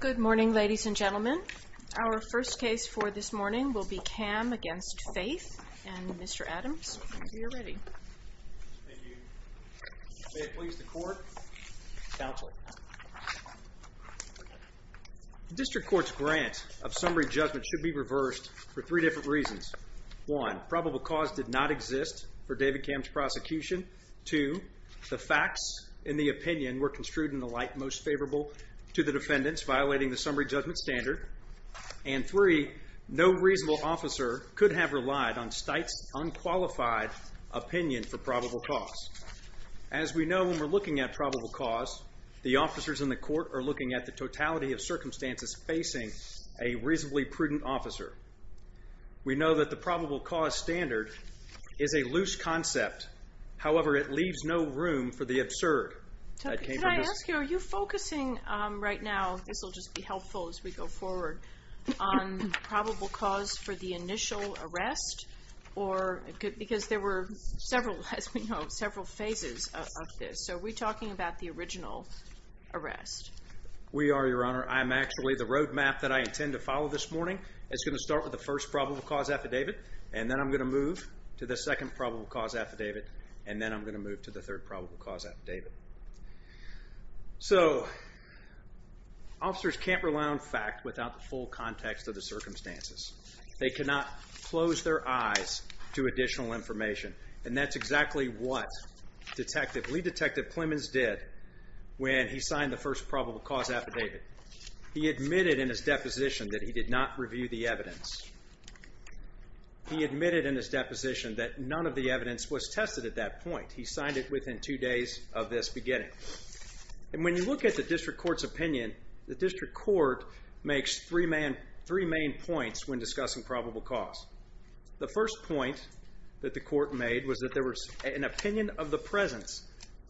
Good morning ladies and gentlemen. Our first case for this morning will be Camm against Faith and Mr. Adams, if you're ready. District Court's grant of summary judgment should be reversed for three different reasons. One, probable cause did not exist for David Camm's prosecution. Two, the facts in the opinion were construed in the light most favorable to the defendants violating the summary judgment standard. And three, no reasonable officer could have relied on Stites unqualified opinion for probable cause. As we know when we're looking at probable cause, the officers in the court are looking at the totality of circumstances facing a reasonably prudent officer. We know that the probable cause standard is a loose Can I ask you, are you focusing right now, this will just be helpful as we go forward, on probable cause for the initial arrest? Because there were several, as we know, several phases of this. So are we talking about the original arrest? We are, Your Honor. I'm actually, the roadmap that I intend to follow this morning is going to start with the first probable cause affidavit, and then I'm going to move to the second probable cause affidavit, and then I'm going to move to the third probable cause affidavit. So officers can't rely on fact without the full context of the circumstances. They cannot close their eyes to additional information, and that's exactly what Detective, Lead Detective Plemons did when he signed the first probable cause affidavit. He admitted in his deposition that he did not review the evidence. He admitted in his deposition that none of the evidence was tested at that point. He signed it within two days of this beginning. And when you look at the district court's opinion, the district court makes three main points when discussing probable cause. The first point that the court made was that there was an opinion of the presence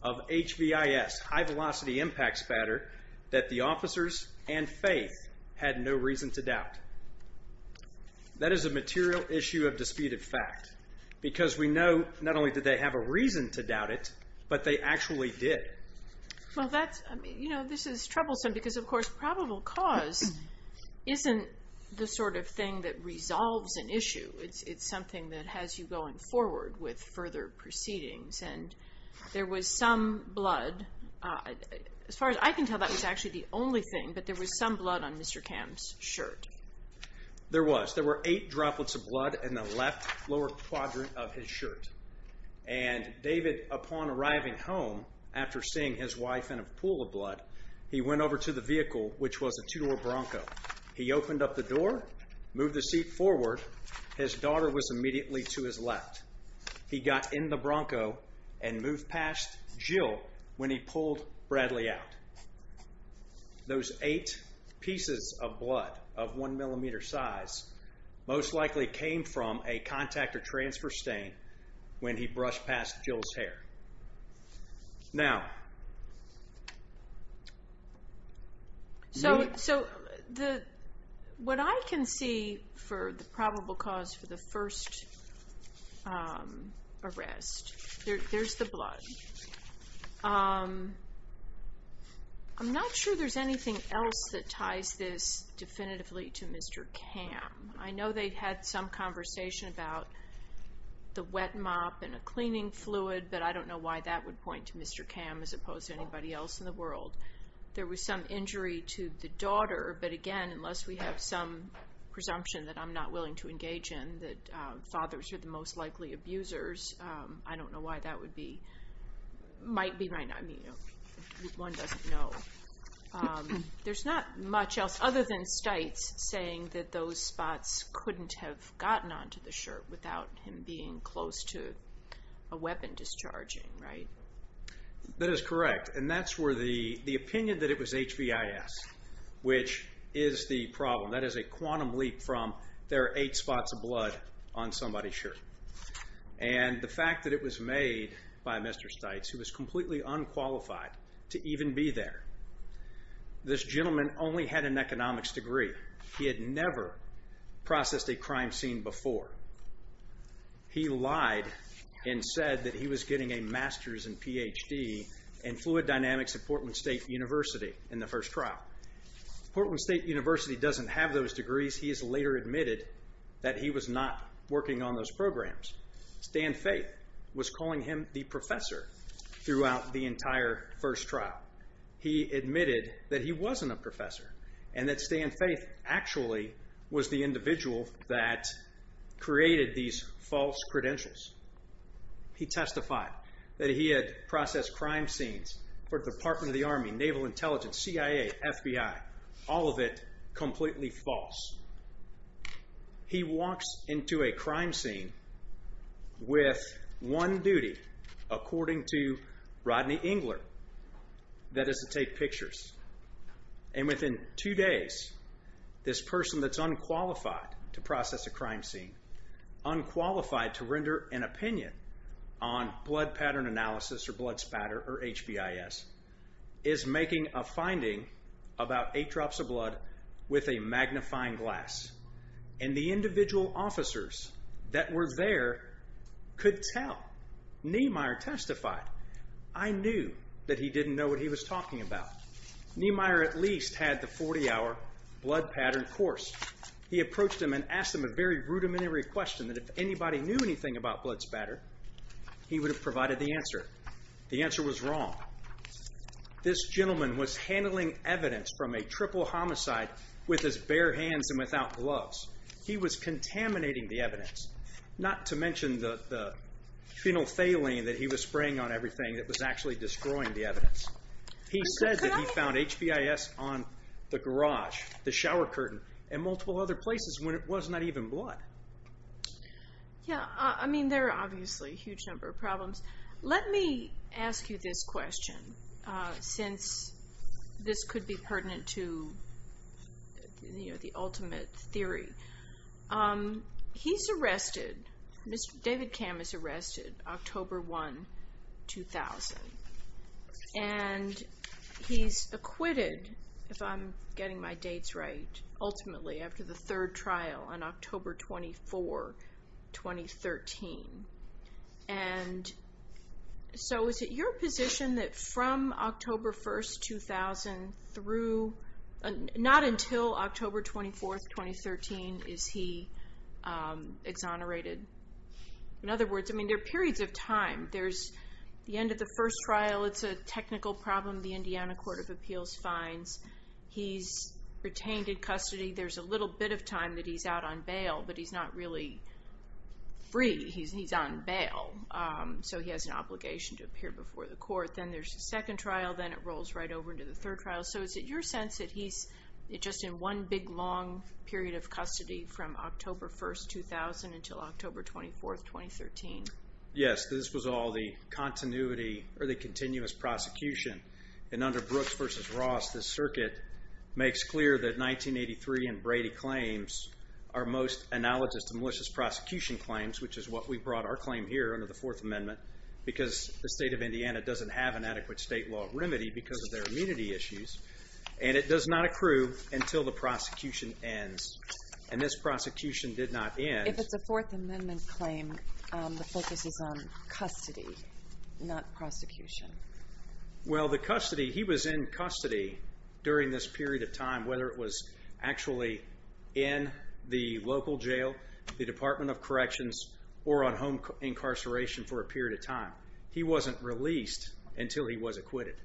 of HVIS, high-velocity impact spatter, that the officers and faith had no reason to doubt it, but they actually did. Well, that's, you know, this is troublesome because, of course, probable cause isn't the sort of thing that resolves an issue. It's something that has you going forward with further proceedings, and there was some blood. As far as I can tell, that was actually the only thing, but there was some blood on Mr. Cam's shirt. There was. There were eight pieces of blood on the front quadrant of his shirt, and David, upon arriving home, after seeing his wife in a pool of blood, he went over to the vehicle, which was a two-door Bronco. He opened up the door, moved the seat forward. His daughter was immediately to his left. He got in the Bronco and moved past Jill when he pulled Bradley out. Those eight pieces of blood of one millimeter size most likely came from a contactor transfer stain when he brushed past Jill's hair. Now, so what I can see for the probable cause for the first arrest, there's the blood. I'm not sure there's anything else that ties this definitively to Mr. Cam. I know they've had some conversation about the wet mop and a cleaning fluid, but I don't know why that would point to Mr. Cam as opposed to anybody else in the world. There was some injury to the daughter, but again, unless we have some presumption that I'm not willing to engage in, that fathers are the most likely abusers, I don't know why that would be. Might be, might not. I mean, one doesn't know. There's not much else other than Stites saying that those spots couldn't have gotten onto the shirt without him being close to a weapon discharging, right? That is correct, and that's where the opinion that it was HVIS, which is the problem, that is a quantum leap from there are eight spots of blood on somebody's shirt, and the fact that it was made by Mr. Stites, who was completely unqualified to even be there. This gentleman only had an economics degree. He had never processed a crime scene before. He lied and said that he was getting a master's and PhD in fluid dynamics at Portland State University in the first trial. Portland State University doesn't have those degrees. He has later admitted that he was not working on those programs. Stan Faith was calling him the professor throughout the entire first trial. He admitted that he wasn't a professor and that Stan Faith actually was the individual that created these false credentials. He testified that he had processed crime scenes for the Department of the Army, Naval Intelligence, CIA, FBI, all of it completely false. He walks into a crime scene with one duty, according to Rodney Engler, that is to take pictures, and within two days, this person that's unqualified to process a crime scene, unqualified to render an opinion on blood pattern analysis or blood spatter or HVIS, is making a finding about eight drops of blood with a magnifying glass, and the individual officers that were there could tell. Niemeyer testified. I knew that he didn't know what he was talking about. Niemeyer at least had the 40-hour blood pattern course. He approached him and asked him a very rudimentary question that if anybody knew anything about blood spatter, he would have provided the answer. The answer was wrong. This gentleman was wearing gloves. He was contaminating the evidence, not to mention the phenolphthalein that he was spraying on everything that was actually destroying the evidence. He said that he found HVIS on the garage, the shower curtain, and multiple other places when it was not even blood. Yeah, I mean there are obviously a huge number of problems. Let me ask you this in theory. He's arrested, Mr. David Cam is arrested October 1, 2000, and he's acquitted, if I'm getting my dates right, ultimately after the third trial on October 24, 2013. And so is it your sense that he's just in one big long period of time, custody from October 1, 2000 until October 24, 2013? Yes, this was all the continuity or the continuous prosecution. And under Brooks v. Ross, this circuit makes clear that 1983 and Brady claims are most analogous to malicious prosecution claims, which is what we brought our claim here under the Fourth Amendment, because the state of Indiana doesn't have an adequate state law remedy because of their immunity issues. And it does not accrue until the prosecution ends. And this prosecution did not end. If it's a Fourth Amendment claim, the focus is on custody, not prosecution. Well, the custody, he was in custody during this period of time, whether it was actually in the local jail, the Department of Corrections, or on home incarceration for a period of time. He wasn't released until he was acquitted.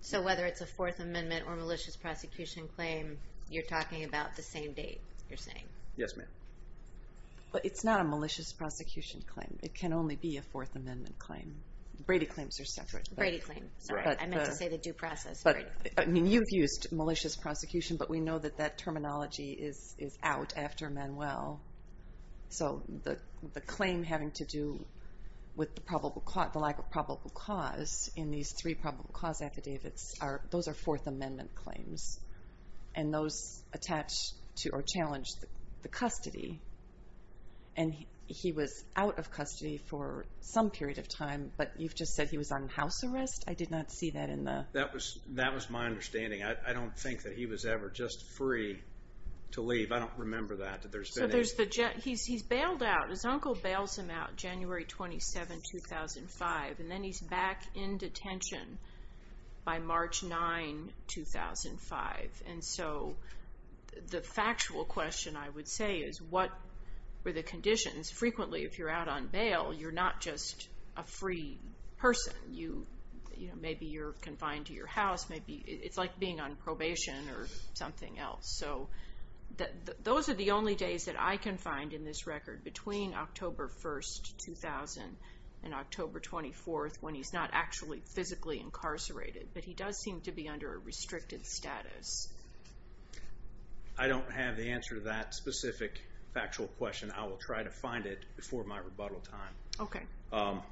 So whether it's a Fourth Amendment or malicious prosecution claim, you're talking about the same thing. The same date, you're saying? Yes, ma'am. But it's not a malicious prosecution claim. It can only be a Fourth Amendment claim. Brady claims are separate. Brady claims. Sorry, I meant to say the due process. I mean, you've used malicious prosecution, but we know that that terminology is out after Manuel. So the claim having to do with the lack of probable cause in these three probable cause affidavits, those are Fourth Amendment claims, and those attach to the or challenge the custody. And he was out of custody for some period of time, but you've just said he was on house arrest? I did not see that in the... That was my understanding. I don't think that he was ever just free to leave. I don't remember that. He's bailed out. His uncle bails him out January 27, 2005, and then he's back in detention by March 9, 2005. And so the factual question, I would say, is what were the conditions? Frequently, if you're out on bail, you're not just a free person. Maybe you're confined to your house. It's like being on probation or something else. So those are the only days that I can find in this record between October 1, 2000 and October 24, when he's not actually physically incarcerated. But he does seem to be under a restricted status. I don't have the answer to that specific factual question. I will try to find it before my rebuttal time. Okay.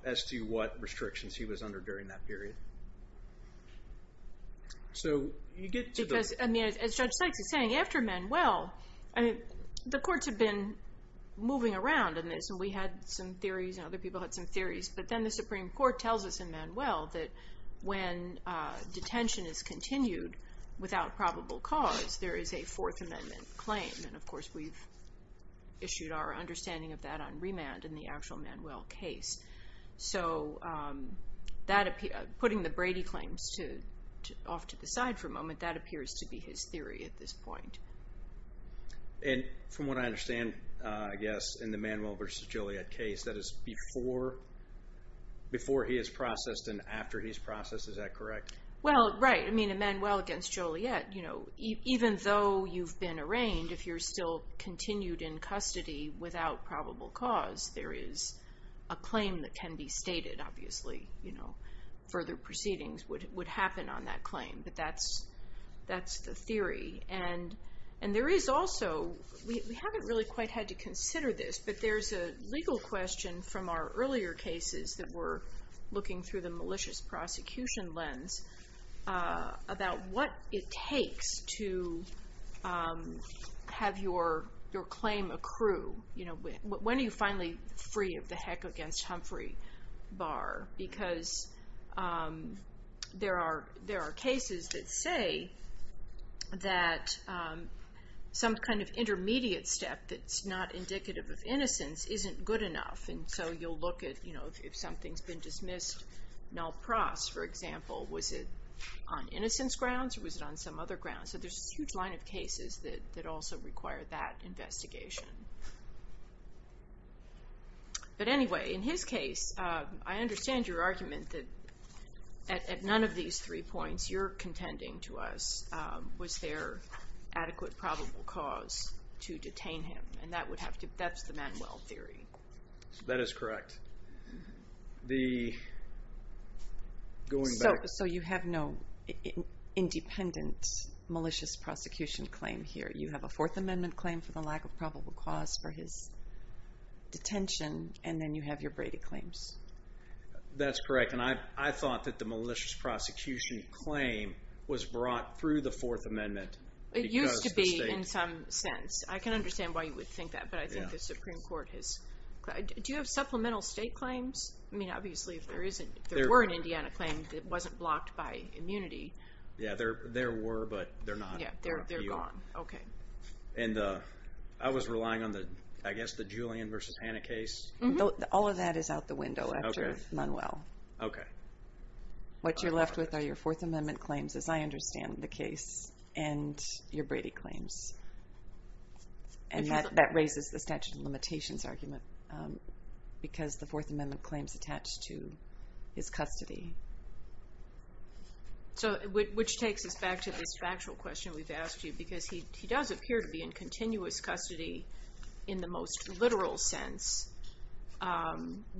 As to what restrictions he was under during that period. So you get to the... Because, as Judge Sykes is saying, after Manuel, the courts have been moving around in this. And we had some theories, and other people had some theories. But then the Supreme Court tells us in Manuel that when detention is continued without probable cause, there is a Fourth Amendment claim. And of course, we've issued our understanding of that on remand in the actual Manuel case. So putting the Brady claims off to the side for a moment, that appears to be his theory at this point. And from what I understand, I guess, in the Manuel v. Joliet case, that is before he is processed and after he's processed. Is that correct? Well, right. I mean, in Manuel v. Joliet, even though you've been arraigned, if you're still continued in custody without probable cause, there is a claim that can be stated, obviously. Further proceedings would happen on that claim. But that's the theory. And there is also... We haven't really quite had to consider this, but there's a legal question from our earlier cases that we're looking through the malicious prosecution lens about what it takes to have your claim accrue. When are you finally free of the heck against Humphrey Barr? Because there are cases that say that some kind of intermediate step that's not indicative of innocence isn't good enough. And so you'll look at, you know, if something's been dismissed, Nell Pross, for example, was it on innocence grounds or was it on some other grounds? So there's this huge line of cases that also require that investigation. But anyway, in his case, I understand your argument that at none of these three points you're contending to us was there adequate probable cause to detain him. And that's the Manuel theory. That is correct. So you have no independent malicious prosecution claim here. You have a Fourth Amendment claim for the lack of probable cause for his detention, and then you have your Brady claims. That's correct. And I thought that the malicious prosecution claim was brought through the Fourth Amendment. It used to be in some sense. I can understand why you would think that, but I think the Supreme Court has... Do you have supplemental state claims? I mean, obviously, if there were an Indiana claim that wasn't blocked by immunity. Yeah, there were, but they're not. Yeah, they're gone. Okay. And I was relying on the, I guess, the Julian versus Hannah case. All of that is out the window after Manuel. Okay. What you're left with are your Fourth Amendment claims, as I understand the case, and your Brady claims. And that raises the statute of limitations argument because the Fourth Amendment claims attached to his custody. So, which takes us back to this factual question we've asked you because he does appear to be in continuous custody in the most literal sense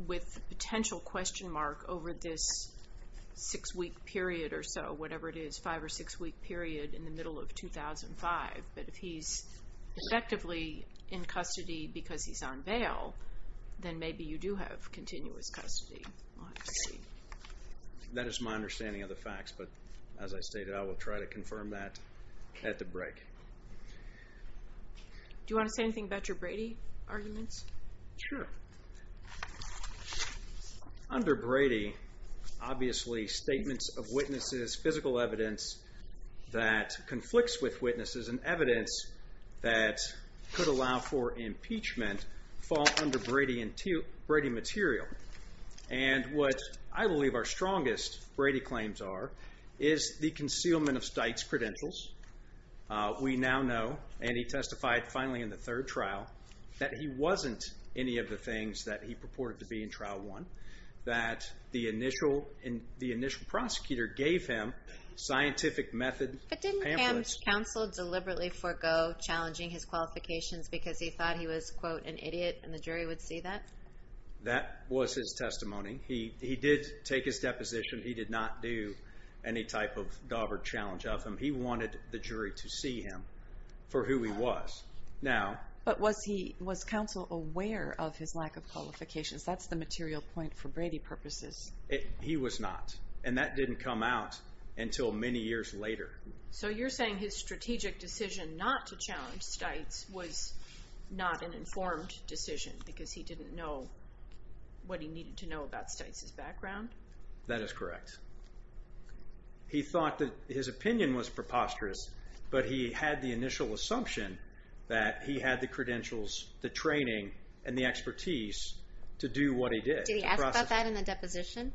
with potential question mark over this six week period or so, whatever it is, five or six week period in the middle of 2005. But if he's effectively in custody because he's on bail, then maybe you do have continuous custody. That is my understanding of the facts, but as I stated, I will try to confirm that at the break. Do you want to say anything about your Brady arguments? Sure. that he purported to be in trial one, that the initial prosecutor gave him scientific method pamphlets. But didn't Ham's counsel deliberately forego challenging his qualifications because he thought he was, quote, an idiot and the jury would see that? That was his testimony. He did take his deposition. He did not do any type of daub or challenge of him. He wanted the jury to see him for who he was. But was he, was counsel aware of his lack of qualifications? That's the material point for Brady purposes. He was not. And that didn't come out until many years later. So you're saying his strategic decision not to challenge Stites was not an informed decision because he didn't know what he needed to know about Stites' background? That is correct. He thought that his opinion was preposterous, but he had the initial assumption that he had the credentials, the training and the expertise to do what he did. Did he ask about that in the deposition?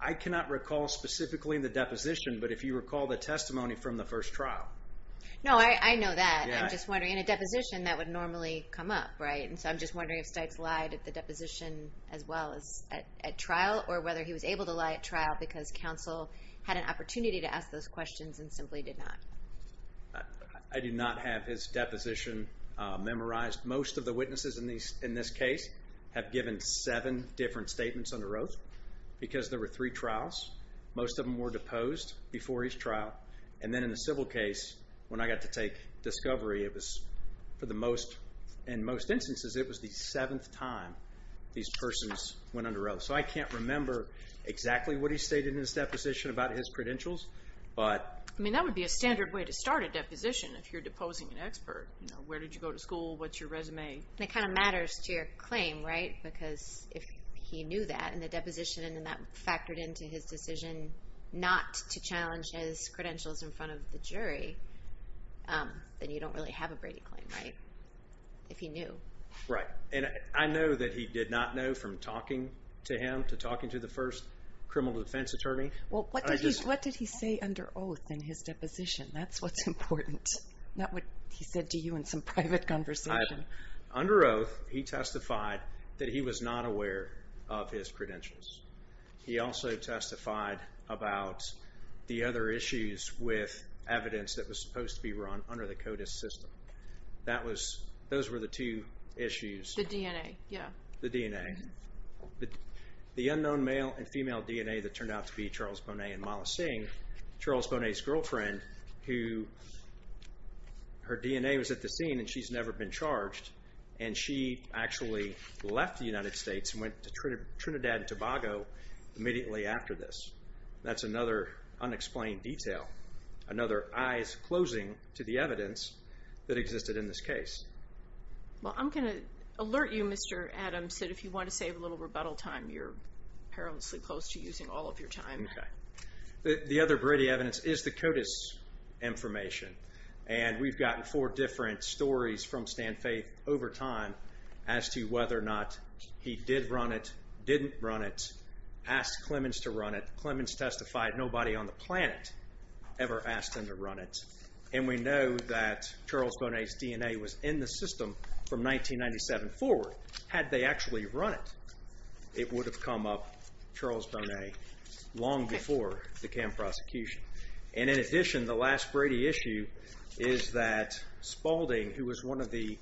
I cannot recall specifically in the deposition, but if you recall the testimony from the first trial. No, I know that. I'm just wondering. In a deposition, that would normally come up, right? And so I'm just wondering if Stites lied at the deposition as well as at trial or whether he was able to lie at trial because counsel had an opportunity to ask those questions and simply did not. I do not have his deposition memorized. Most of the witnesses in this case have given seven different statements under oath because there were three trials. Most of them were deposed before each trial. And then in the civil case, when I got to take discovery, it was for the most, in most instances, it was the seventh time these persons went under oath. So I can't remember exactly what he stated in his deposition about his credentials. I mean, that would be a standard way to start a deposition if you're deposing an expert. Where did you go to school? What's your resume? It kind of matters to your claim, right? Because if he knew that in the deposition and then that factored into his decision not to challenge his credentials in front of the jury, then you don't really have a Brady claim, right? If he knew. Right. And I know that he did not know from talking to him, to talking to the first criminal defense attorney. Well, what did he say under oath in his deposition? That's what's important. Not what he said to you in some private conversation. Under oath, he testified that he was not aware of his credentials. He also testified about the other issues with evidence that was supposed to be run under the CODIS system. Those were the two issues. The DNA, yeah. The DNA. The unknown male and female DNA that turned out to be Charles Bonet and Mala Singh, Charles Bonet's girlfriend, who her DNA was at the scene and she's never been charged, and she actually left the United States and went to Trinidad and Tobago immediately after this. That's another unexplained detail, another eyes closing to the evidence that existed in this case. Well, I'm going to alert you, Mr. Adams, that if you want to save a little rebuttal time, you're perilously close to using all of your time. The other Brady evidence is the CODIS information, and we've gotten four different stories from Stan Faith over time as to whether or not he did run it, didn't run it, asked Clemens to run it. Clemens testified nobody on the planet ever asked him to run it, and we know that Charles Bonet's DNA was in the system from 1997 forward. Had they actually run it, it would have come up, Charles Bonet, long before the camp prosecution. And in addition, the last Brady issue is that Spaulding, who was one of the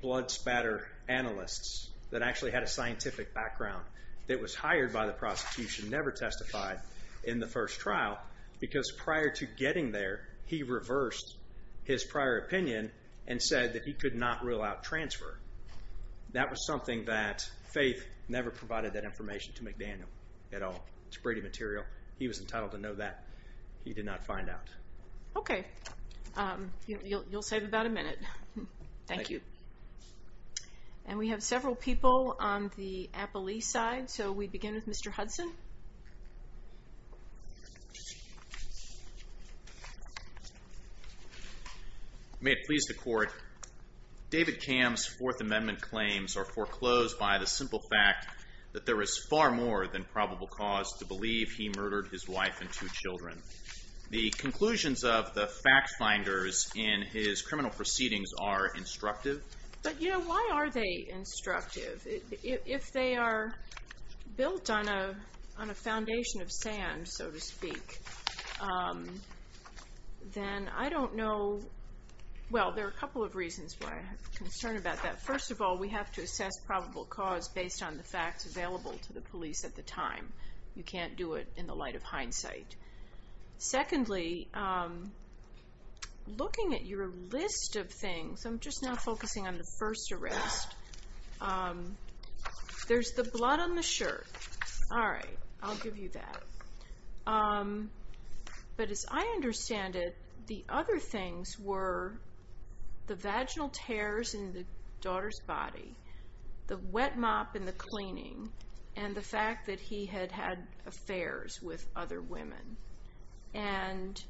blood spatter analysts that actually had a scientific background that was hired by the prosecution, never testified in the first trial because prior to getting there, he reversed his prior opinion and said that he could not rule out transfer. That was something that Faith never provided that information to McDaniel at all. It's Brady material. He was entitled to know that. He did not find out. Okay. You'll save about a minute. Thank you. And we have several people on the Appelee side, so we begin with Mr. Hudson. May it please the court, David Cam's Fourth Amendment claims are foreclosed by the simple fact that there is far more than probable cause to believe he murdered his wife and two children. The conclusions of the fact finders in his criminal proceedings are instructive. But, you know, why are they instructive? If they are built on a foundation of sand, so to speak, then I don't know. Well, there are a couple of reasons why I have concern about that. First of all, we have to assess probable cause based on the facts available to the police at the time. You can't do it in the light of hindsight. Secondly, looking at your list of things, I'm just now focusing on the first arrest. There's the blood on the shirt. All right. I'll give you that. But as I understand it, the other things were the vaginal tears in the daughter's body, the wet mop in the cleaning, and the fact that he had had affairs with other women. And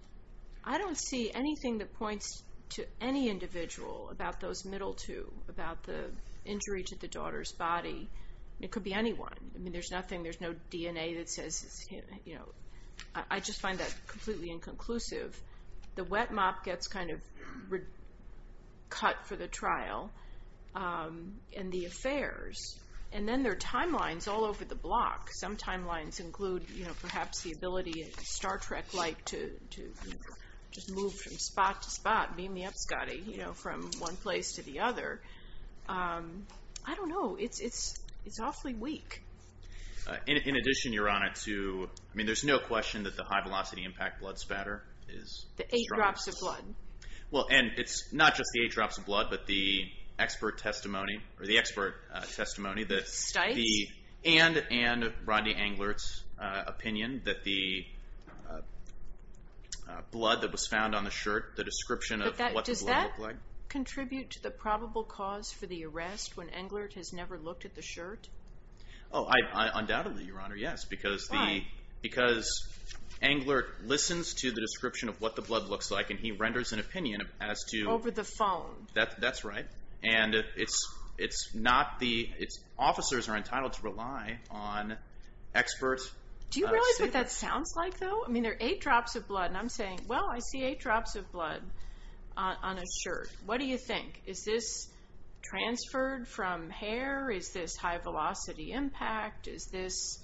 I don't see anything that points to any individual about those middle two, about the injury to the daughter's body. It could be anyone. I mean, there's nothing, there's no DNA that says, you know, I just find that completely inconclusive. The wet mop gets kind of cut for the trial and the affairs. And then there are timelines all over the block. Some timelines include, you know, perhaps the ability of Star Trek-like to just move from spot to spot. Beam me up, Scotty, you know, from one place to the other. I don't know. It's awfully weak. In addition, Your Honor, to, I mean, there's no question that the high-velocity impact blood spatter is- The eight drops of blood. Well, and it's not just the eight drops of blood, but the expert testimony, or the expert testimony that- Stites? And Rodney Englert's opinion that the blood that was found on the shirt, the description of what the blood looked like- when Englert has never looked at the shirt? Oh, undoubtedly, Your Honor, yes. Why? Because Englert listens to the description of what the blood looks like, and he renders an opinion as to- Over the phone. That's right. And it's not the- Officers are entitled to rely on experts. Do you realize what that sounds like, though? I mean, there are eight drops of blood, and I'm saying, well, I see eight drops of blood on a shirt. What do you think? Is this transferred from hair? Is this high-velocity impact? Is this,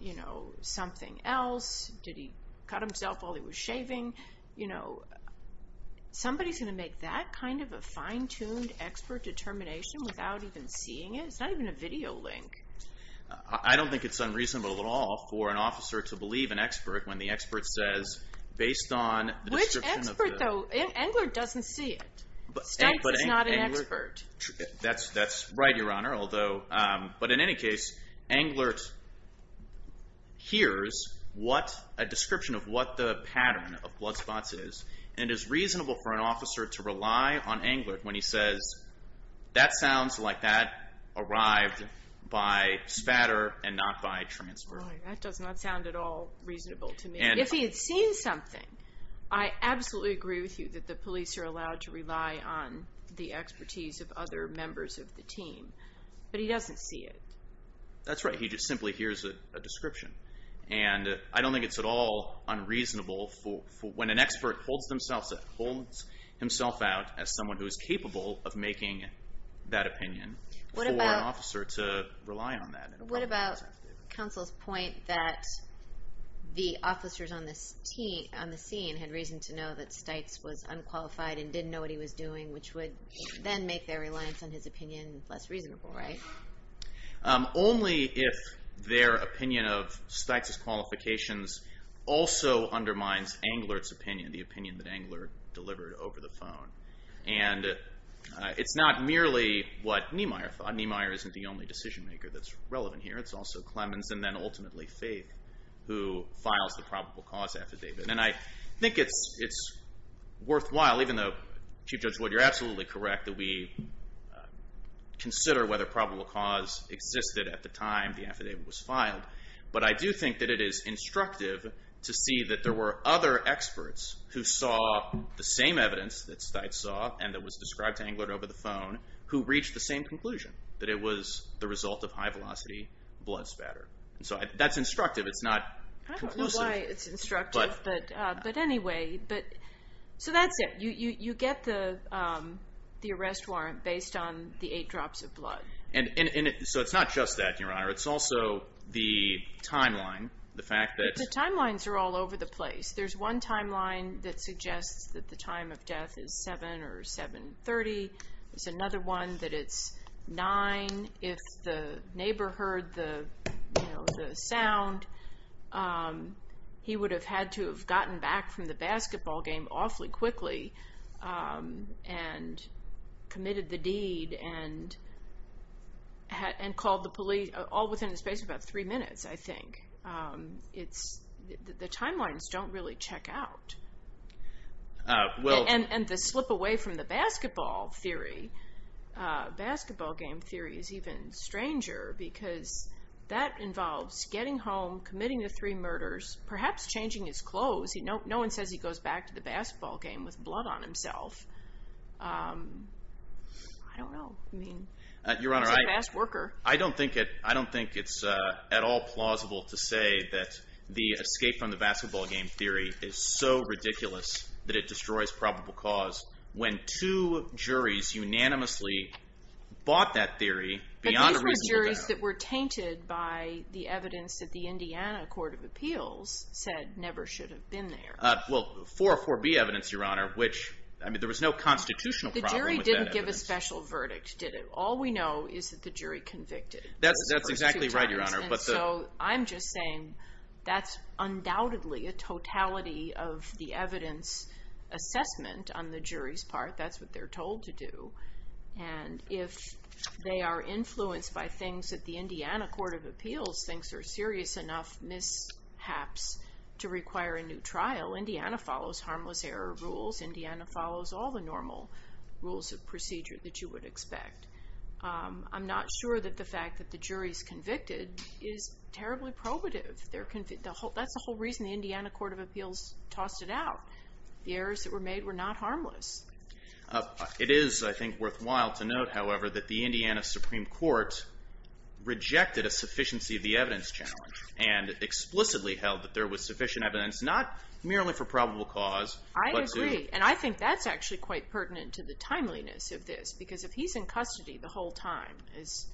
you know, something else? Did he cut himself while he was shaving? You know, somebody's going to make that kind of a fine-tuned expert determination without even seeing it? It's not even a video link. I don't think it's unreasonable at all for an officer to believe an expert when the expert says, based on the description of the- Stokes is not an expert. That's right, Your Honor, although- But in any case, Englert hears what a description of what the pattern of blood spots is, and it's reasonable for an officer to rely on Englert when he says, that sounds like that arrived by spatter and not by transfer. That does not sound at all reasonable to me. If he had seen something, I absolutely agree with you that the police are allowed to rely on the expertise of other members of the team, but he doesn't see it. That's right. He just simply hears a description, and I don't think it's at all unreasonable for when an expert holds himself out as someone who is capable of making that opinion for an officer to rely on that. What about counsel's point that the officers on the scene had reason to know that Stites was unqualified and didn't know what he was doing, which would then make their reliance on his opinion less reasonable, right? Only if their opinion of Stites' qualifications also undermines Englert's opinion, the opinion that Englert delivered over the phone. And it's not merely what Niemeyer thought. Niemeyer isn't the only decision maker that's relevant here. It's also Clemens and then ultimately Faith who files the probable cause affidavit. And I think it's worthwhile, even though Chief Judge Wood, you're absolutely correct that we consider whether probable cause existed at the time the affidavit was filed. But I do think that it is instructive to see that there were other experts who saw the same evidence that Stites saw and that was described to Englert over the phone who reached the same conclusion, that it was the result of high-velocity blood spatter. And so that's instructive. It's not conclusive. I don't know why it's instructive, but anyway. So that's it. You get the arrest warrant based on the eight drops of blood. So it's not just that, Your Honor. It's also the timeline, the fact that- The timelines are all over the place. There's one timeline that suggests that the time of death is 7 or 7.30. There's another one that it's 9. If the neighbor heard the sound, he would have had to have gotten back from the basketball game awfully quickly and committed the deed and called the police all within the space of about three minutes, I think. The timelines don't really check out. And to slip away from the basketball theory, basketball game theory is even stranger because that involves getting home, committing the three murders, perhaps changing his clothes. No one says he goes back to the basketball game with blood on himself. I don't know. I mean, he's a fast worker. I don't think it's at all plausible to say that the escape from the basketball game theory is so ridiculous that it destroys probable cause when two juries unanimously bought that theory beyond a reasonable doubt. But these were juries that were tainted by the evidence that the Indiana Court of Appeals said never should have been there. Well, 404B evidence, Your Honor, which, I mean, there was no constitutional problem with that evidence. All we know is that the jury convicted. That's exactly right, Your Honor. And so I'm just saying that's undoubtedly a totality of the evidence assessment on the jury's part. That's what they're told to do. And if they are influenced by things that the Indiana Court of Appeals thinks are serious enough mishaps to require a new trial, Indiana follows harmless error rules. Indiana follows all the normal rules of procedure that you would expect. I'm not sure that the fact that the jury's convicted is terribly probative. That's the whole reason the Indiana Court of Appeals tossed it out. The errors that were made were not harmless. It is, I think, worthwhile to note, however, that the Indiana Supreme Court rejected a sufficiency of the evidence challenge and explicitly held that there was sufficient evidence not merely for probable cause but to... I agree. And I think that's actually quite pertinent to the timeliness of this because if he's in custody the whole time, as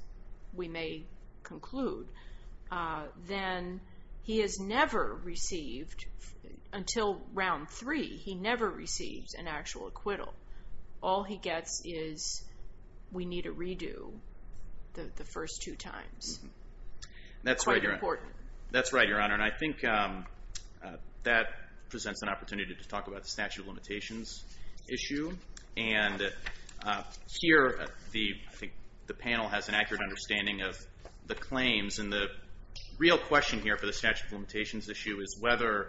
we may conclude, then he has never received, until round three, he never received an actual acquittal. All he gets is, we need a redo the first two times. Quite important. That's right, Your Honor. And I think that presents an opportunity to talk about the statute of limitations issue. And here, I think the panel has an accurate understanding of the claims. And the real question here for the statute of limitations issue is whether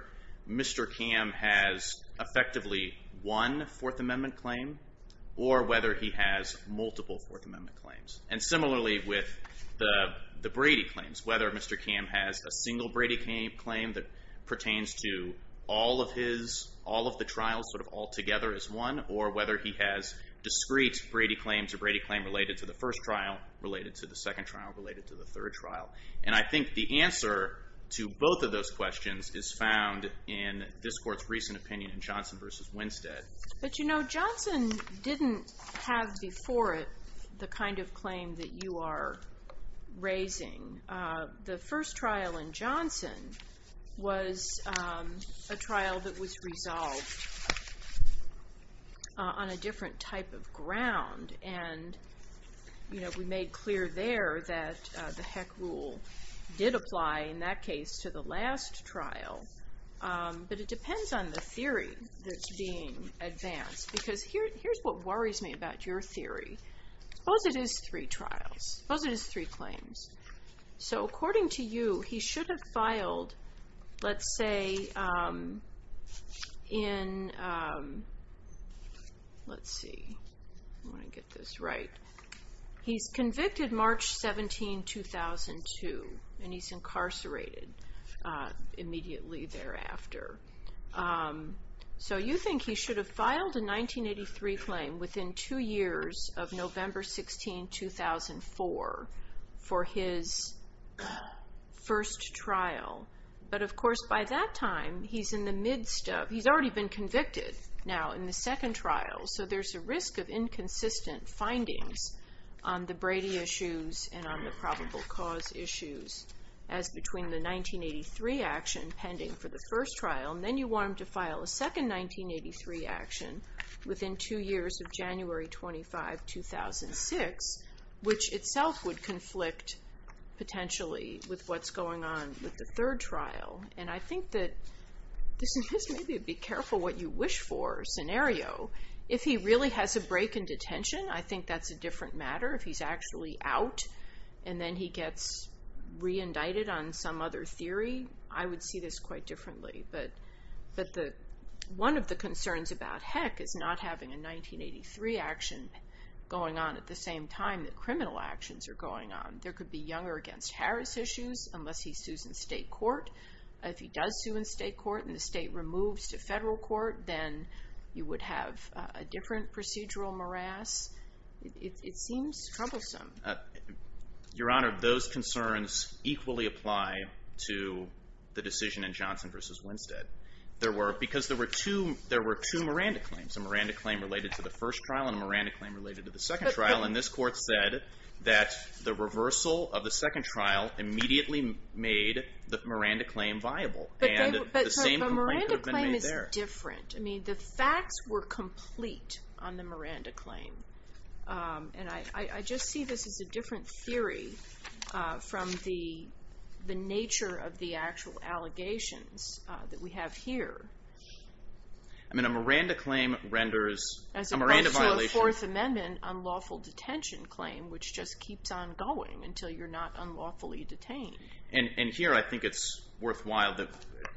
Mr. Kamm has effectively one Fourth Amendment claim or whether he has multiple Fourth Amendment claims. And similarly with the Brady claims, whether Mr. Kamm has a single Brady claim that pertains to all of his, all of the trials sort of all together as one, or whether he has discrete Brady claims or Brady claim related to the first trial, related to the second trial, related to the third trial. And I think the answer to both of those questions is found in this Court's recent opinion in Johnson v. Winstead. But, you know, Johnson didn't have before it the kind of claim that you are raising. The first trial in Johnson was a trial that was resolved on a different type of ground. And, you know, we made clear there that the Heck Rule did apply in that case to the last trial. But it depends on the theory that's being advanced. Because here's what worries me about your theory. Suppose it is three trials. Suppose it is three claims. So, according to you, he should have filed, let's say, in, let's see, I want to get this right. He's convicted March 17, 2002, and he's incarcerated immediately thereafter. So you think he should have filed a 1983 claim within two years of November 16, 2004 for his first trial. But, of course, by that time he's in the midst of, he's already been convicted now in the second trial. So there's a risk of inconsistent findings on the Brady issues and on the probable cause issues as between the 1983 action pending for the first trial, and then you want him to file a second 1983 action within two years of January 25, 2006, which itself would conflict potentially with what's going on with the third trial. And I think that this may be a be careful what you wish for scenario. If he really has a break in detention, I think that's a different matter. If he's actually out and then he gets re-indicted on some other theory, I would see this quite differently. But one of the concerns about Heck is not having a 1983 action going on at the same time that criminal actions are going on. There could be younger against Harris issues unless he sues in state court. If he does sue in state court and the state removes to federal court, then you would have a different procedural morass. It seems troublesome. Your Honor, those concerns equally apply to the decision in Johnson v. Winstead. Because there were two Miranda claims. A Miranda claim related to the first trial and a Miranda claim related to the second trial. And this court said that the reversal of the second trial immediately made the Miranda claim viable. But the Miranda claim is different. I mean, the facts were complete on the Miranda claim. And I just see this as a different theory from the nature of the actual allegations that we have here. I mean, a Miranda claim renders... As opposed to a Fourth Amendment unlawful detention claim, which just keeps on going until you're not unlawfully detained. And here I think it's worthwhile that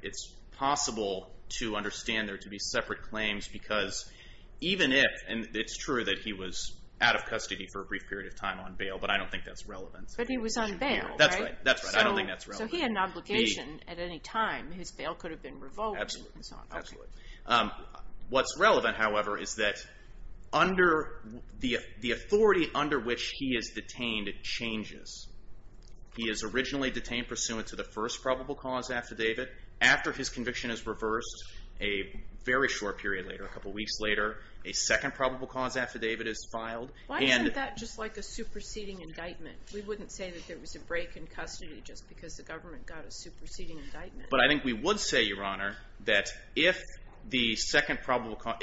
it's possible to understand there to be separate claims. Because even if... And it's true that he was out of custody for a brief period of time on bail. But I don't think that's relevant. But he was on bail, right? That's right. I don't think that's relevant. So he had an obligation at any time. His bail could have been revoked. Absolutely. What's relevant, however, is that the authority under which he is detained changes. He is originally detained pursuant to the first probable cause affidavit. After his conviction is reversed, a very short period later, a couple weeks later, a second probable cause affidavit is filed. Why isn't that just like a superseding indictment? We wouldn't say that there was a break in custody just because the government got a superseding indictment. But I think we would say, Your Honor, that if the second probable cause...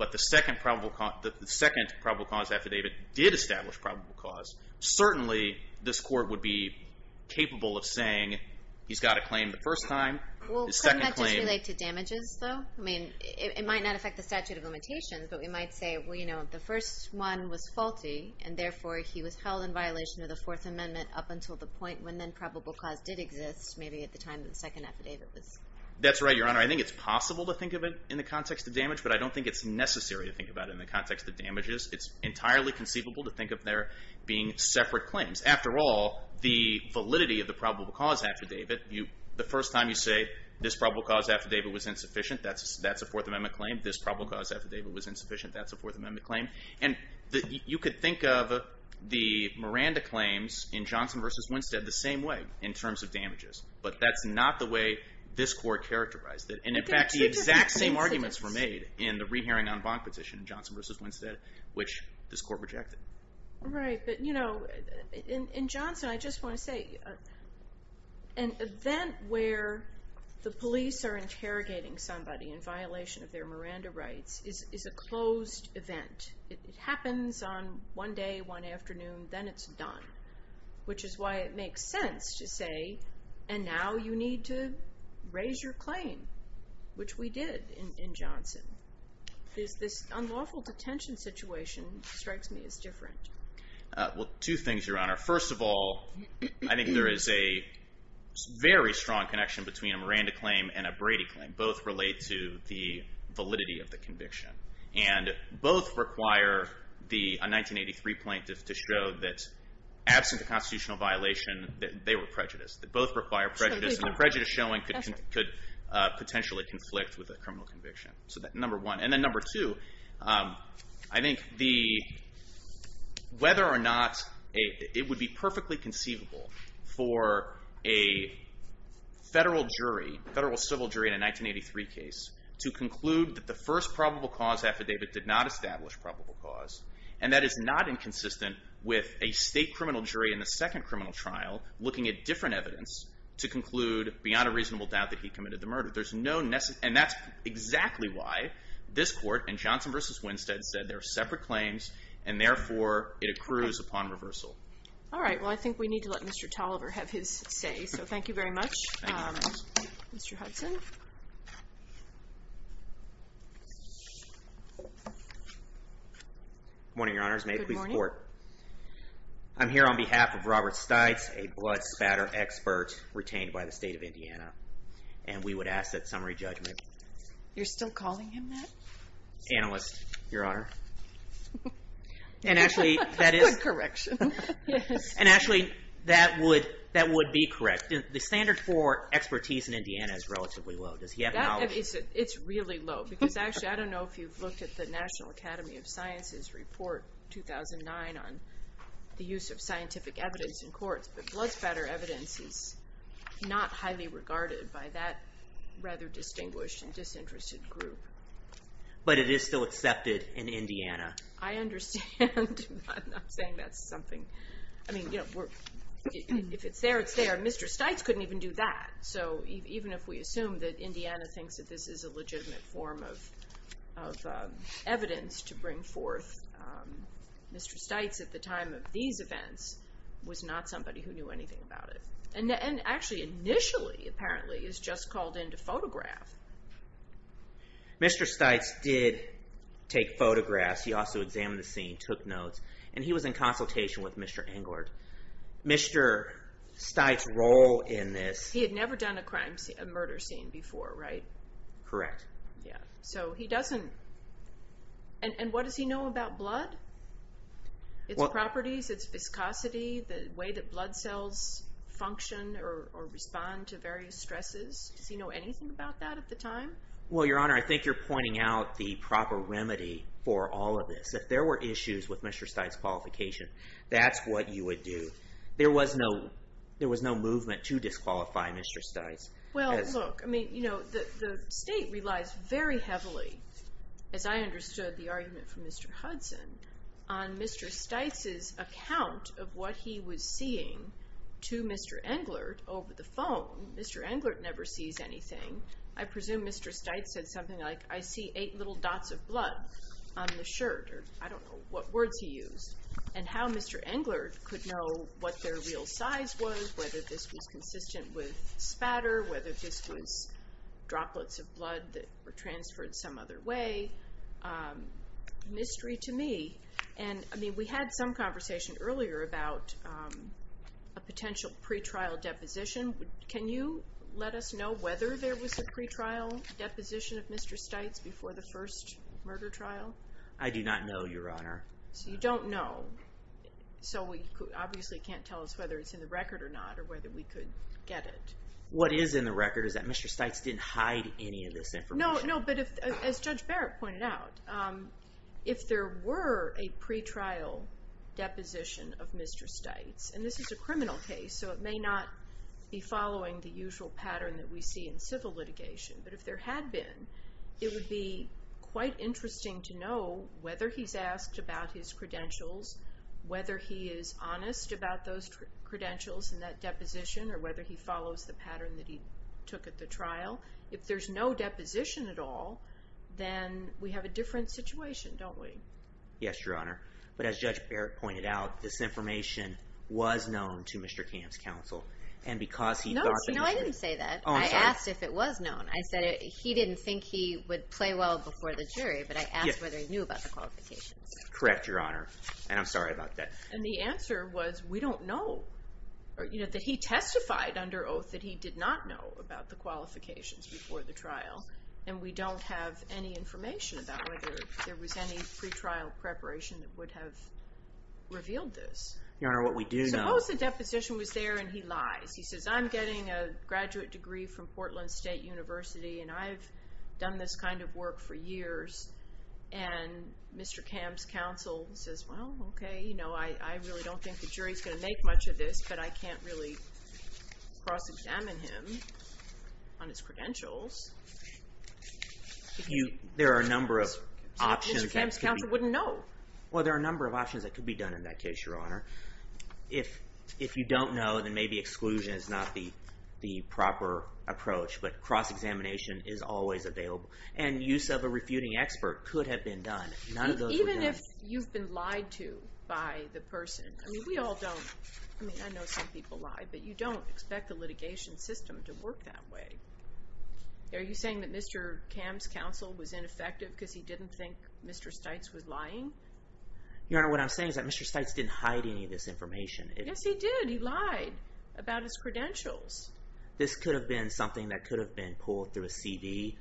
But the second probable cause affidavit did establish probable cause. Certainly, this court would be capable of saying he's got a claim the first time. Well, couldn't that just relate to damages, though? I mean, it might not affect the statute of limitations. But we might say, well, you know, the first one was faulty. And therefore, he was held in violation of the Fourth Amendment up until the point when then probable cause did exist, maybe at the time that the second affidavit was... That's right, Your Honor. I think it's possible to think of it in the context of damage. But I don't think it's necessary to think about it in the context of damages. It's entirely conceivable to think of there being separate claims. After all, the validity of the probable cause affidavit, the first time you say this probable cause affidavit was insufficient, that's a Fourth Amendment claim. This probable cause affidavit was insufficient, that's a Fourth Amendment claim. And you could think of the Miranda claims in Johnson v. Winstead the same way in terms of damages. But that's not the way this court characterized it. And, in fact, the exact same arguments were made in the rehearing on Bonk petition in Johnson v. Winstead, which this court rejected. Right, but, you know, in Johnson, I just want to say an event where the police are interrogating somebody in violation of their Miranda rights is a closed event. It happens on one day, one afternoon, then it's done, which is why it makes sense to say, and now you need to raise your claim, which we did in Johnson. This unlawful detention situation strikes me as different. Well, two things, Your Honor. First of all, I think there is a very strong connection between a Miranda claim and a Brady claim. Both relate to the validity of the conviction. And both require a 1983 plaintiff to show that, absent a constitutional violation, that they were prejudiced. Both require prejudice, and the prejudice showing could potentially conflict with a criminal conviction. So that's number one. And then number two, I think whether or not it would be perfectly conceivable for a federal jury, in a 1983 case, to conclude that the first probable cause affidavit did not establish probable cause, and that is not inconsistent with a state criminal jury in the second criminal trial looking at different evidence to conclude, beyond a reasonable doubt, that he committed the murder. And that's exactly why this court in Johnson v. Winstead said there are separate claims, and therefore it accrues upon reversal. All right, well, I think we need to let Mr. Tolliver have his say. So thank you very much, Mr. Hudson. Good morning, Your Honors. May it please the Court. Good morning. I'm here on behalf of Robert Stites, a blood spatter expert retained by the state of Indiana. And we would ask that summary judgment. You're still calling him that? Analyst, Your Honor. Good correction. And actually, that would be correct. The standard for expertise in Indiana is relatively low. Does he have knowledge? It's really low. Because actually, I don't know if you've looked at the National Academy of Sciences report 2009 on the use of scientific evidence in courts, but blood spatter evidence is not highly regarded by that rather distinguished and disinterested group. But it is still accepted in Indiana. I understand. I'm not saying that's something. I mean, if it's there, it's there. Mr. Stites couldn't even do that. So even if we assume that Indiana thinks that this is a legitimate form of evidence to bring forth, Mr. Stites at the time of these events was not somebody who knew anything about it. And actually, initially, apparently, is just called in to photograph. Mr. Stites did take photographs. He also examined the scene, took notes, and he was in consultation with Mr. Englert. Mr. Stites' role in this... He had never done a murder scene before, right? Correct. Yeah. So he doesn't... And what does he know about blood, its properties, its viscosity, the way that blood cells function or respond to various stresses? Does he know anything about that at the time? Well, Your Honor, I think you're pointing out the proper remedy for all of this. If there were issues with Mr. Stites' qualification, that's what you would do. There was no movement to disqualify Mr. Stites. Well, look, I mean, you know, the State relies very heavily, as I understood the argument from Mr. Hudson, on Mr. Stites' account of what he was seeing to Mr. Englert over the phone. Mr. Englert never sees anything. I presume Mr. Stites said something like, I see eight little dots of blood on the shirt, or I don't know what words he used. And how Mr. Englert could know what their real size was, whether this was consistent with spatter, whether this was droplets of blood that were transferred some other way, a mystery to me. And, I mean, we had some conversation earlier about a potential pretrial deposition. Can you let us know whether there was a pretrial deposition of Mr. Stites before the first murder trial? I do not know, Your Honor. So you don't know. So we obviously can't tell us whether it's in the record or not, or whether we could get it. What is in the record is that Mr. Stites didn't hide any of this information. No, but as Judge Barrett pointed out, if there were a pretrial deposition of Mr. Stites, and this is a criminal case, so it may not be following the usual pattern that we see in civil litigation, but if there had been, it would be quite interesting to know whether he's asked about his credentials, whether he is honest about those credentials and that deposition, or whether he follows the pattern that he took at the trial. If there's no deposition at all, then we have a different situation, don't we? Yes, Your Honor. But as Judge Barrett pointed out, this information was known to Mr. Kamm's counsel, and because he thought that it was true. No, I didn't say that. I asked if it was known. I said he didn't think he would play well before the jury, but I asked whether he knew about the qualifications. Correct, Your Honor, and I'm sorry about that. And the answer was we don't know. He testified under oath that he did not know about the qualifications before the trial, and we don't have any information about whether there was any pretrial preparation that would have revealed this. Your Honor, what we do know. Suppose the deposition was there and he lies. He says, I'm getting a graduate degree from Portland State University, and I've done this kind of work for years, and Mr. Kamm's counsel says, well, okay, I really don't think the jury is going to make much of this, but I can't really cross-examine him on his credentials. There are a number of options. Mr. Kamm's counsel wouldn't know. Well, there are a number of options that could be done in that case, Your Honor. If you don't know, then maybe exclusion is not the proper approach, but cross-examination is always available, and use of a refuting expert could have been done. Even if you've been lied to by the person. I mean, we all don't. I mean, I know some people lie, but you don't expect the litigation system to work that way. Are you saying that Mr. Kamm's counsel was ineffective because he didn't think Mr. Stites was lying? Your Honor, what I'm saying is that Mr. Stites didn't hide any of this information. Yes, he did. He lied about his credentials. This could have been something that could have been pulled through a CD.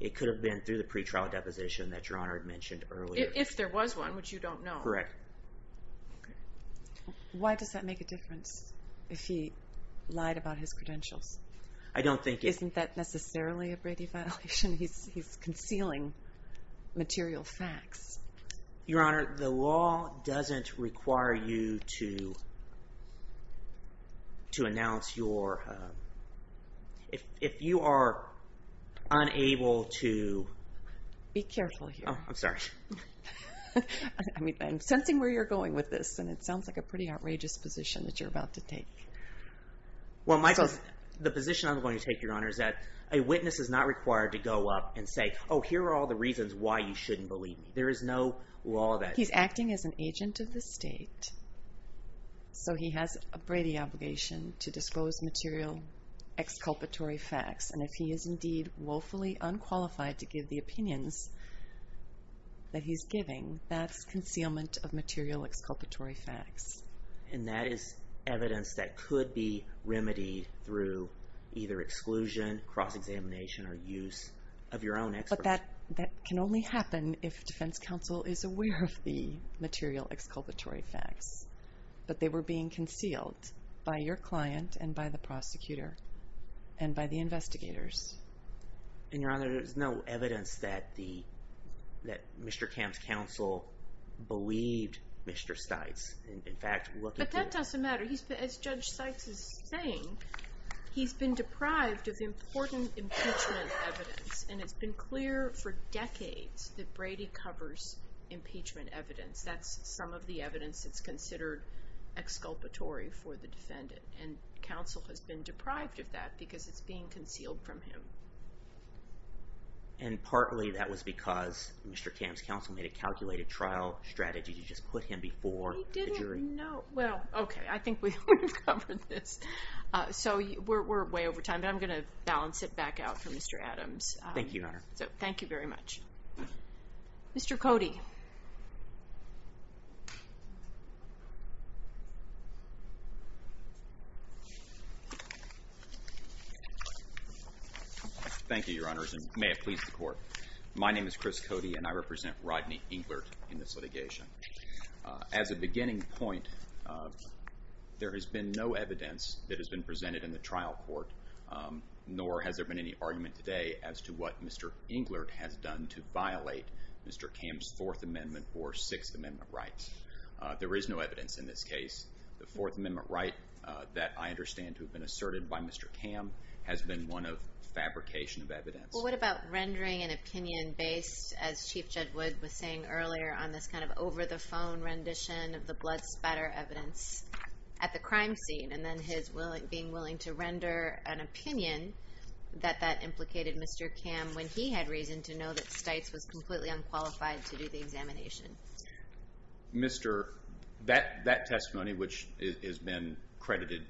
It could have been through the pretrial deposition that Your Honor had mentioned earlier. If there was one, which you don't know. Correct. Why does that make a difference if he lied about his credentials? Isn't that necessarily a Brady violation? He's concealing material facts. Your Honor, the law doesn't require you to announce your... If you are unable to... Be careful here. Oh, I'm sorry. I'm sensing where you're going with this, and it sounds like a pretty outrageous position that you're about to take. Well, the position I'm going to take, Your Honor, is that a witness is not required to go up and say, oh, here are all the reasons why you shouldn't believe me. There is no law that... He's acting as an agent of the state, so he has a Brady obligation to disclose material exculpatory facts, and if he is indeed woefully unqualified to give the opinions that he's giving, that's concealment of material exculpatory facts. And that is evidence that could be remedied through either exclusion, cross-examination, or use of your own expertise. But that can only happen if defense counsel is aware of the material exculpatory facts, but they were being concealed by your client and by the prosecutor and by the investigators. And, Your Honor, there is no evidence that Mr. Kemp's counsel believed Mr. Stites. But that doesn't matter. As Judge Stites is saying, he's been deprived of important impeachment evidence, and it's been clear for decades that Brady covers impeachment evidence. That's some of the evidence that's considered exculpatory for the defendant, and counsel has been deprived of that because it's being concealed from him. And partly that was because Mr. Kemp's counsel made a calculated trial strategy to just put him before the jury. He didn't know. Well, okay, I think we've covered this. So we're way over time, but I'm going to balance it back out for Mr. Adams. Thank you, Your Honor. So thank you very much. Mr. Cody. Thank you, Your Honors, and may it please the Court. My name is Chris Cody, and I represent Rodney Englert in this litigation. As a beginning point, there has been no evidence that has been presented in the trial court, nor has there been any argument today as to what Mr. Englert has done to violate Mr. Kemp's Fourth Amendment or Sixth Amendment rights. There is no evidence in this case. The Fourth Amendment right that I understand to have been asserted by Mr. Kemp has been one of fabrication of evidence. Well, what about rendering an opinion based, as Chief Jud Wood was saying earlier, on this kind of over-the-phone rendition of the blood spatter evidence at the crime scene, and then his being willing to render an opinion that that implicated Mr. Kemp when he had reason to know that Stites was completely unqualified to do the examination? That testimony, which has been credited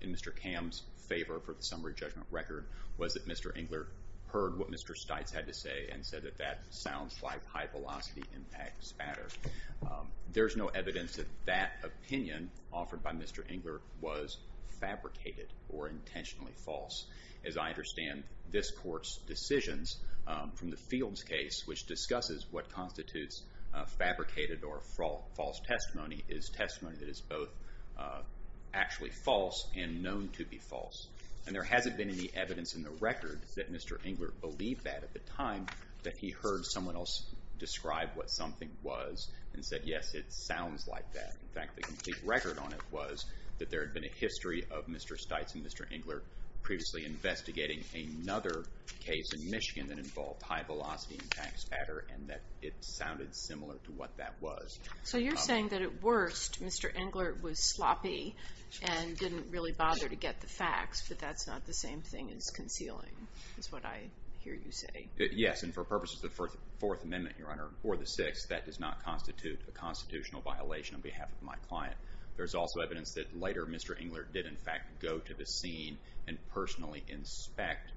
in Mr. Kemp's favor for the summary judgment record, was that Mr. Englert heard what Mr. Stites had to say and said that that sounds like high-velocity impact spatter. There is no evidence that that opinion offered by Mr. Englert was fabricated or intentionally false. As I understand this Court's decisions from the Fields case, which discusses what constitutes fabricated or false testimony, is testimony that is both actually false and known to be false. And there hasn't been any evidence in the record that Mr. Englert believed that at the time that he heard someone else describe what something was and said, yes, it sounds like that. In fact, the complete record on it was that there had been a history of Mr. Stites and Mr. Englert previously investigating another case in Michigan that involved high-velocity impact spatter and that it sounded similar to what that was. So you're saying that, at worst, Mr. Englert was sloppy and didn't really bother to get the facts, but that's not the same thing as concealing, is what I hear you say. Yes, and for purposes of the Fourth Amendment, Your Honor, or the Sixth, that does not constitute a constitutional violation on behalf of my client. There's also evidence that later Mr. Englert did, in fact, go to the scene and personally inspect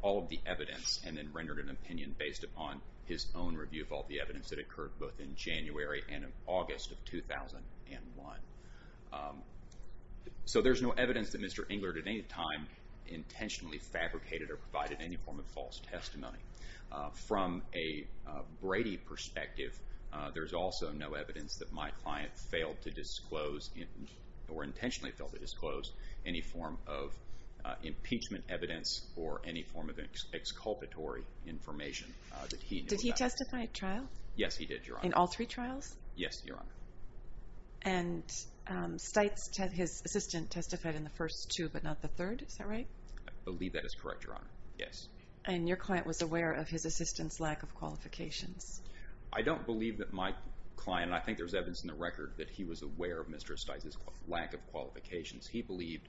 all of the evidence and then rendered an opinion based upon his own review of all the evidence that occurred both in January and August of 2001. So there's no evidence that Mr. Englert at any time intentionally fabricated or provided any form of false testimony. From a Brady perspective, there's also no evidence that my client failed to disclose or intentionally failed to disclose any form of impeachment evidence or any form of exculpatory information that he knew about. Did he testify at trial? Yes, he did, Your Honor. In all three trials? Yes, Your Honor. And Steitz, his assistant, testified in the first two but not the third. Is that right? I believe that is correct, Your Honor. Yes. And your client was aware of his assistant's lack of qualifications? I don't believe that my client, and I think there's evidence in the record that he was aware of Mr. Steitz's lack of qualifications. He believed,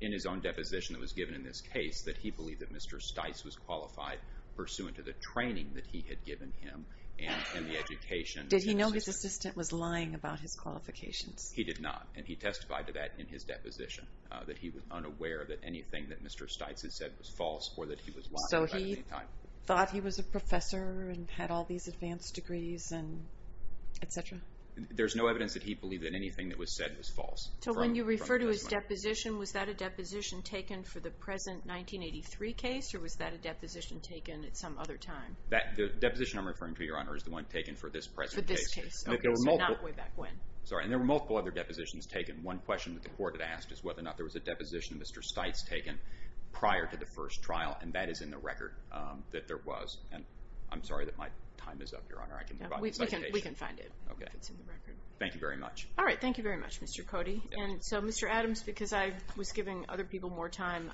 in his own deposition that was given in this case, that he believed that Mr. Steitz was qualified pursuant to the training that he had given him and the education. Did he know his assistant was lying about his qualifications? He did not, and he testified to that in his deposition, that he was unaware that anything that Mr. Steitz had said was false or that he was lying about it at any time. So he thought he was a professor and had all these advanced degrees and et cetera? There's no evidence that he believed that anything that was said was false. So when you refer to his deposition, was that a deposition taken for the present 1983 case or was that a deposition taken at some other time? The deposition I'm referring to, Your Honor, is the one taken for this present case. For this case, okay, so not way back when. Sorry, and there were multiple other depositions taken. One question that the court had asked is whether or not there was a deposition of Mr. Steitz taken prior to the first trial, and that is in the record that there was. I'm sorry that my time is up, Your Honor. I can provide the citation. We can find it if it's in the record. Thank you very much. All right, thank you very much, Mr. Cody. And so, Mr. Adams, because I was giving other people more time,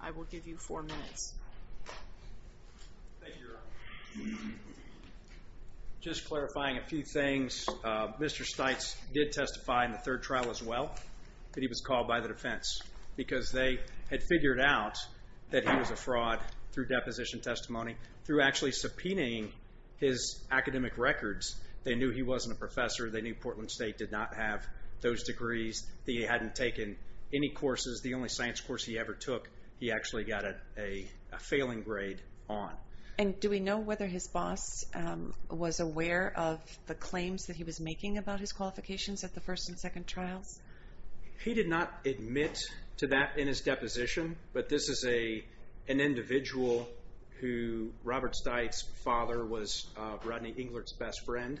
I will give you four minutes. Thank you, Your Honor. Just clarifying a few things. Mr. Steitz did testify in the third trial as well that he was called by the defense because they had figured out that he was a fraud through deposition testimony, through actually subpoenaing his academic records. They knew he wasn't a professor. They knew Portland State did not have those degrees. They hadn't taken any courses. The only science course he ever took, he actually got a failing grade on. And do we know whether his boss was aware of the claims that he was making about his qualifications at the first and second trials? He did not admit to that in his deposition, but this is an individual who Robert Steitz's father was Rodney Englert's best friend.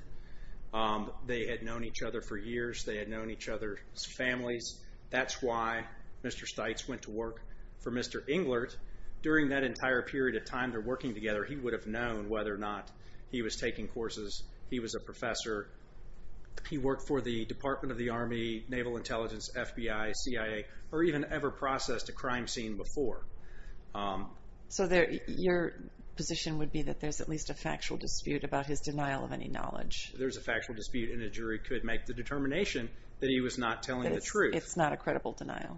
They had known each other for years. They had known each other's families. That's why Mr. Steitz went to work for Mr. Englert. During that entire period of time they're working together, he would have known whether or not he was taking courses, he was a professor, he worked for the Department of the Army, Naval Intelligence, FBI, CIA, or even ever processed a crime scene before. So your position would be that there's at least a factual dispute about his denial of any knowledge? There's a factual dispute, and a jury could make the determination that he was not telling the truth. It's not a credible denial.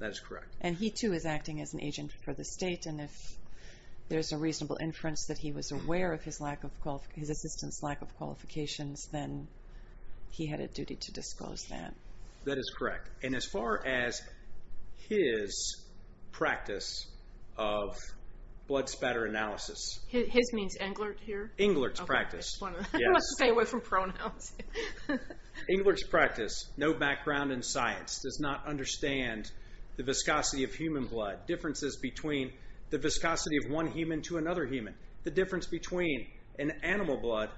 That is correct. And he too is acting as an agent for the state, and if there's a reasonable inference that he was aware of his assistant's lack of qualifications, then he had a duty to disclose that. That is correct. And as far as his practice of blood spatter analysis... His means Englert here? Englert's practice. I want to stay away from pronouns. Englert's practice, no background in science, does not understand the viscosity of human blood, differences between the viscosity of one human to another human, the difference between an animal blood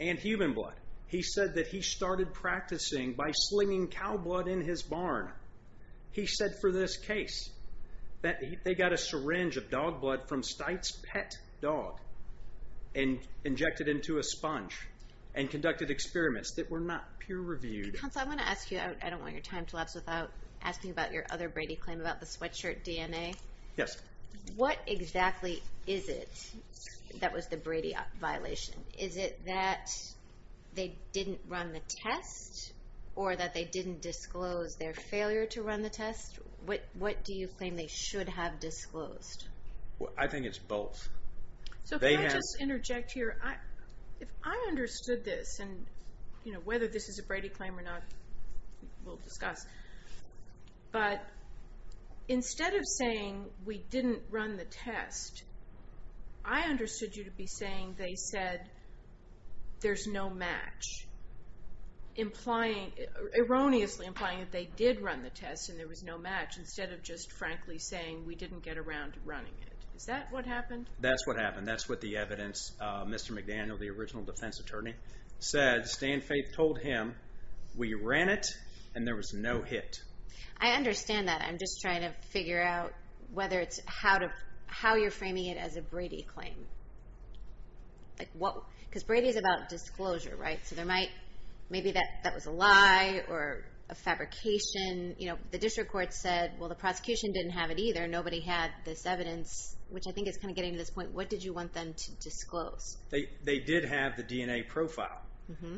and human blood. He said that he started practicing by slinging cow blood in his barn. He said for this case that they got a syringe of dog blood and conducted experiments that were not peer-reviewed. Counsel, I want to ask you. I don't want your time to lapse without asking about your other Brady claim about the sweatshirt DNA. Yes. What exactly is it that was the Brady violation? Is it that they didn't run the test or that they didn't disclose their failure to run the test? What do you claim they should have disclosed? I think it's both. So can I just interject here? If I understood this, and whether this is a Brady claim or not we'll discuss, but instead of saying we didn't run the test, I understood you to be saying they said there's no match, erroneously implying that they did run the test and there was no match, instead of just frankly saying we didn't get around to running it. Is that what happened? That's what happened. That's what the evidence, Mr. McDaniel, the original defense attorney, said. Stan Faith told him we ran it and there was no hit. I understand that. I'm just trying to figure out whether it's how you're framing it as a Brady claim. Because Brady is about disclosure, right? So maybe that was a lie or a fabrication. The district court said, well, the prosecution didn't have it either. Nobody had this evidence, which I think is kind of getting to this point. What did you want them to disclose? They did have the DNA profile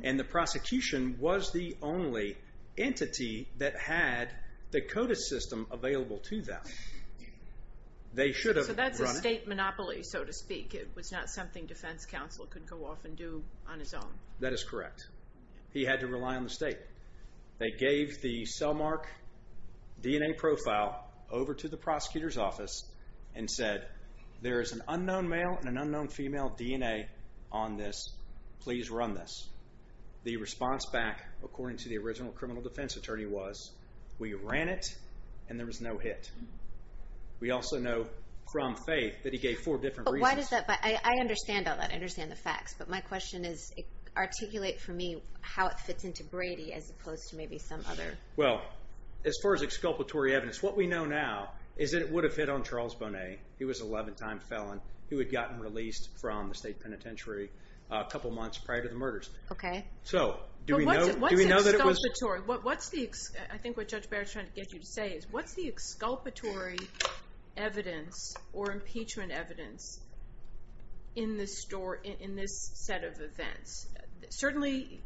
and the prosecution was the only entity that had the CODIS system available to them. So that's a state monopoly, so to speak. It was not something defense counsel could go off and do on his own. That is correct. He had to rely on the state. They gave the cellmark DNA profile over to the prosecutor's office and said there is an unknown male and an unknown female DNA on this. Please run this. The response back, according to the original criminal defense attorney, was we ran it and there was no hit. We also know from Faith that he gave four different reasons. But why does that? I understand all that. I understand the facts. But my question is, articulate for me how it fits into Brady as opposed to maybe some other. Well, as far as exculpatory evidence, what we know now is that it would have hit on Charles Bonet. He was an 11-time felon. He had gotten released from the state penitentiary a couple months prior to the murders. Okay. So do we know that it was? I think what Judge Barrett is trying to get you to say is, what's the exculpatory evidence or impeachment evidence in this set of events? Certainly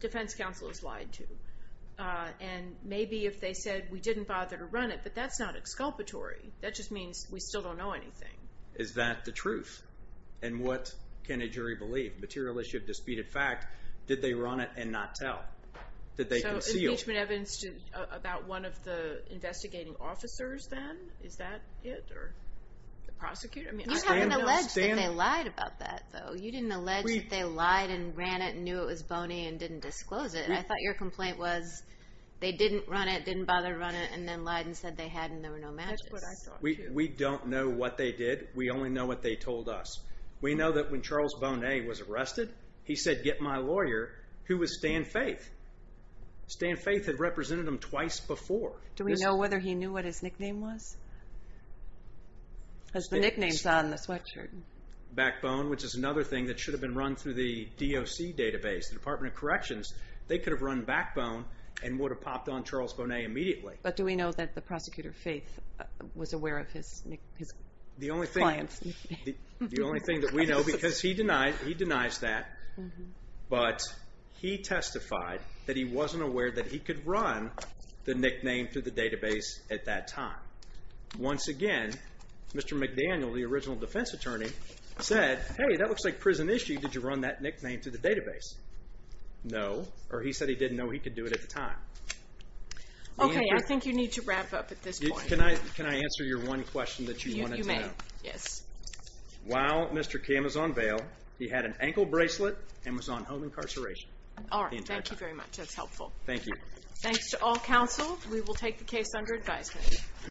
defense counsel has lied to. And maybe if they said, we didn't bother to run it, but that's not exculpatory. That just means we still don't know anything. Is that the truth? And what can a jury believe? Material issue of disputed fact, did they run it and not tell? Did they conceal? So impeachment evidence about one of the investigating officers then, is that it? Or the prosecutor? You haven't alleged that they lied about that, though. You didn't allege that they lied and ran it and knew it was Bonet and didn't disclose it. I thought your complaint was they didn't run it, didn't bother to run it, and then lied and said they had and there were no matches. That's what I thought, too. We don't know what they did. We only know what they told us. We know that when Charles Bonet was arrested, he said, get my lawyer, who was Stan Faith. Stan Faith had represented him twice before. Do we know whether he knew what his nickname was? Because the nickname's on the sweatshirt. Backbone, which is another thing that should have been run through the DOC database, the Department of Corrections. They could have run Backbone and would have popped on Charles Bonet immediately. But do we know that the prosecutor, Faith, was aware of his client's nickname? The only thing that we know, because he denies that, but he testified that he wasn't aware that he could run the nickname through the database at that time. Once again, Mr. McDaniel, the original defense attorney, said, hey, that looks like prison issue. Did you run that nickname through the database? No. Or he said he didn't know he could do it at the time. Okay, I think you need to wrap up at this point. Can I answer your one question that you wanted to know? You may, yes. While Mr. Cam is on bail, he had an ankle bracelet and was on home incarceration. All right, thank you very much. That's helpful. Thank you. Thanks to all counsel. We will take the case under advisement.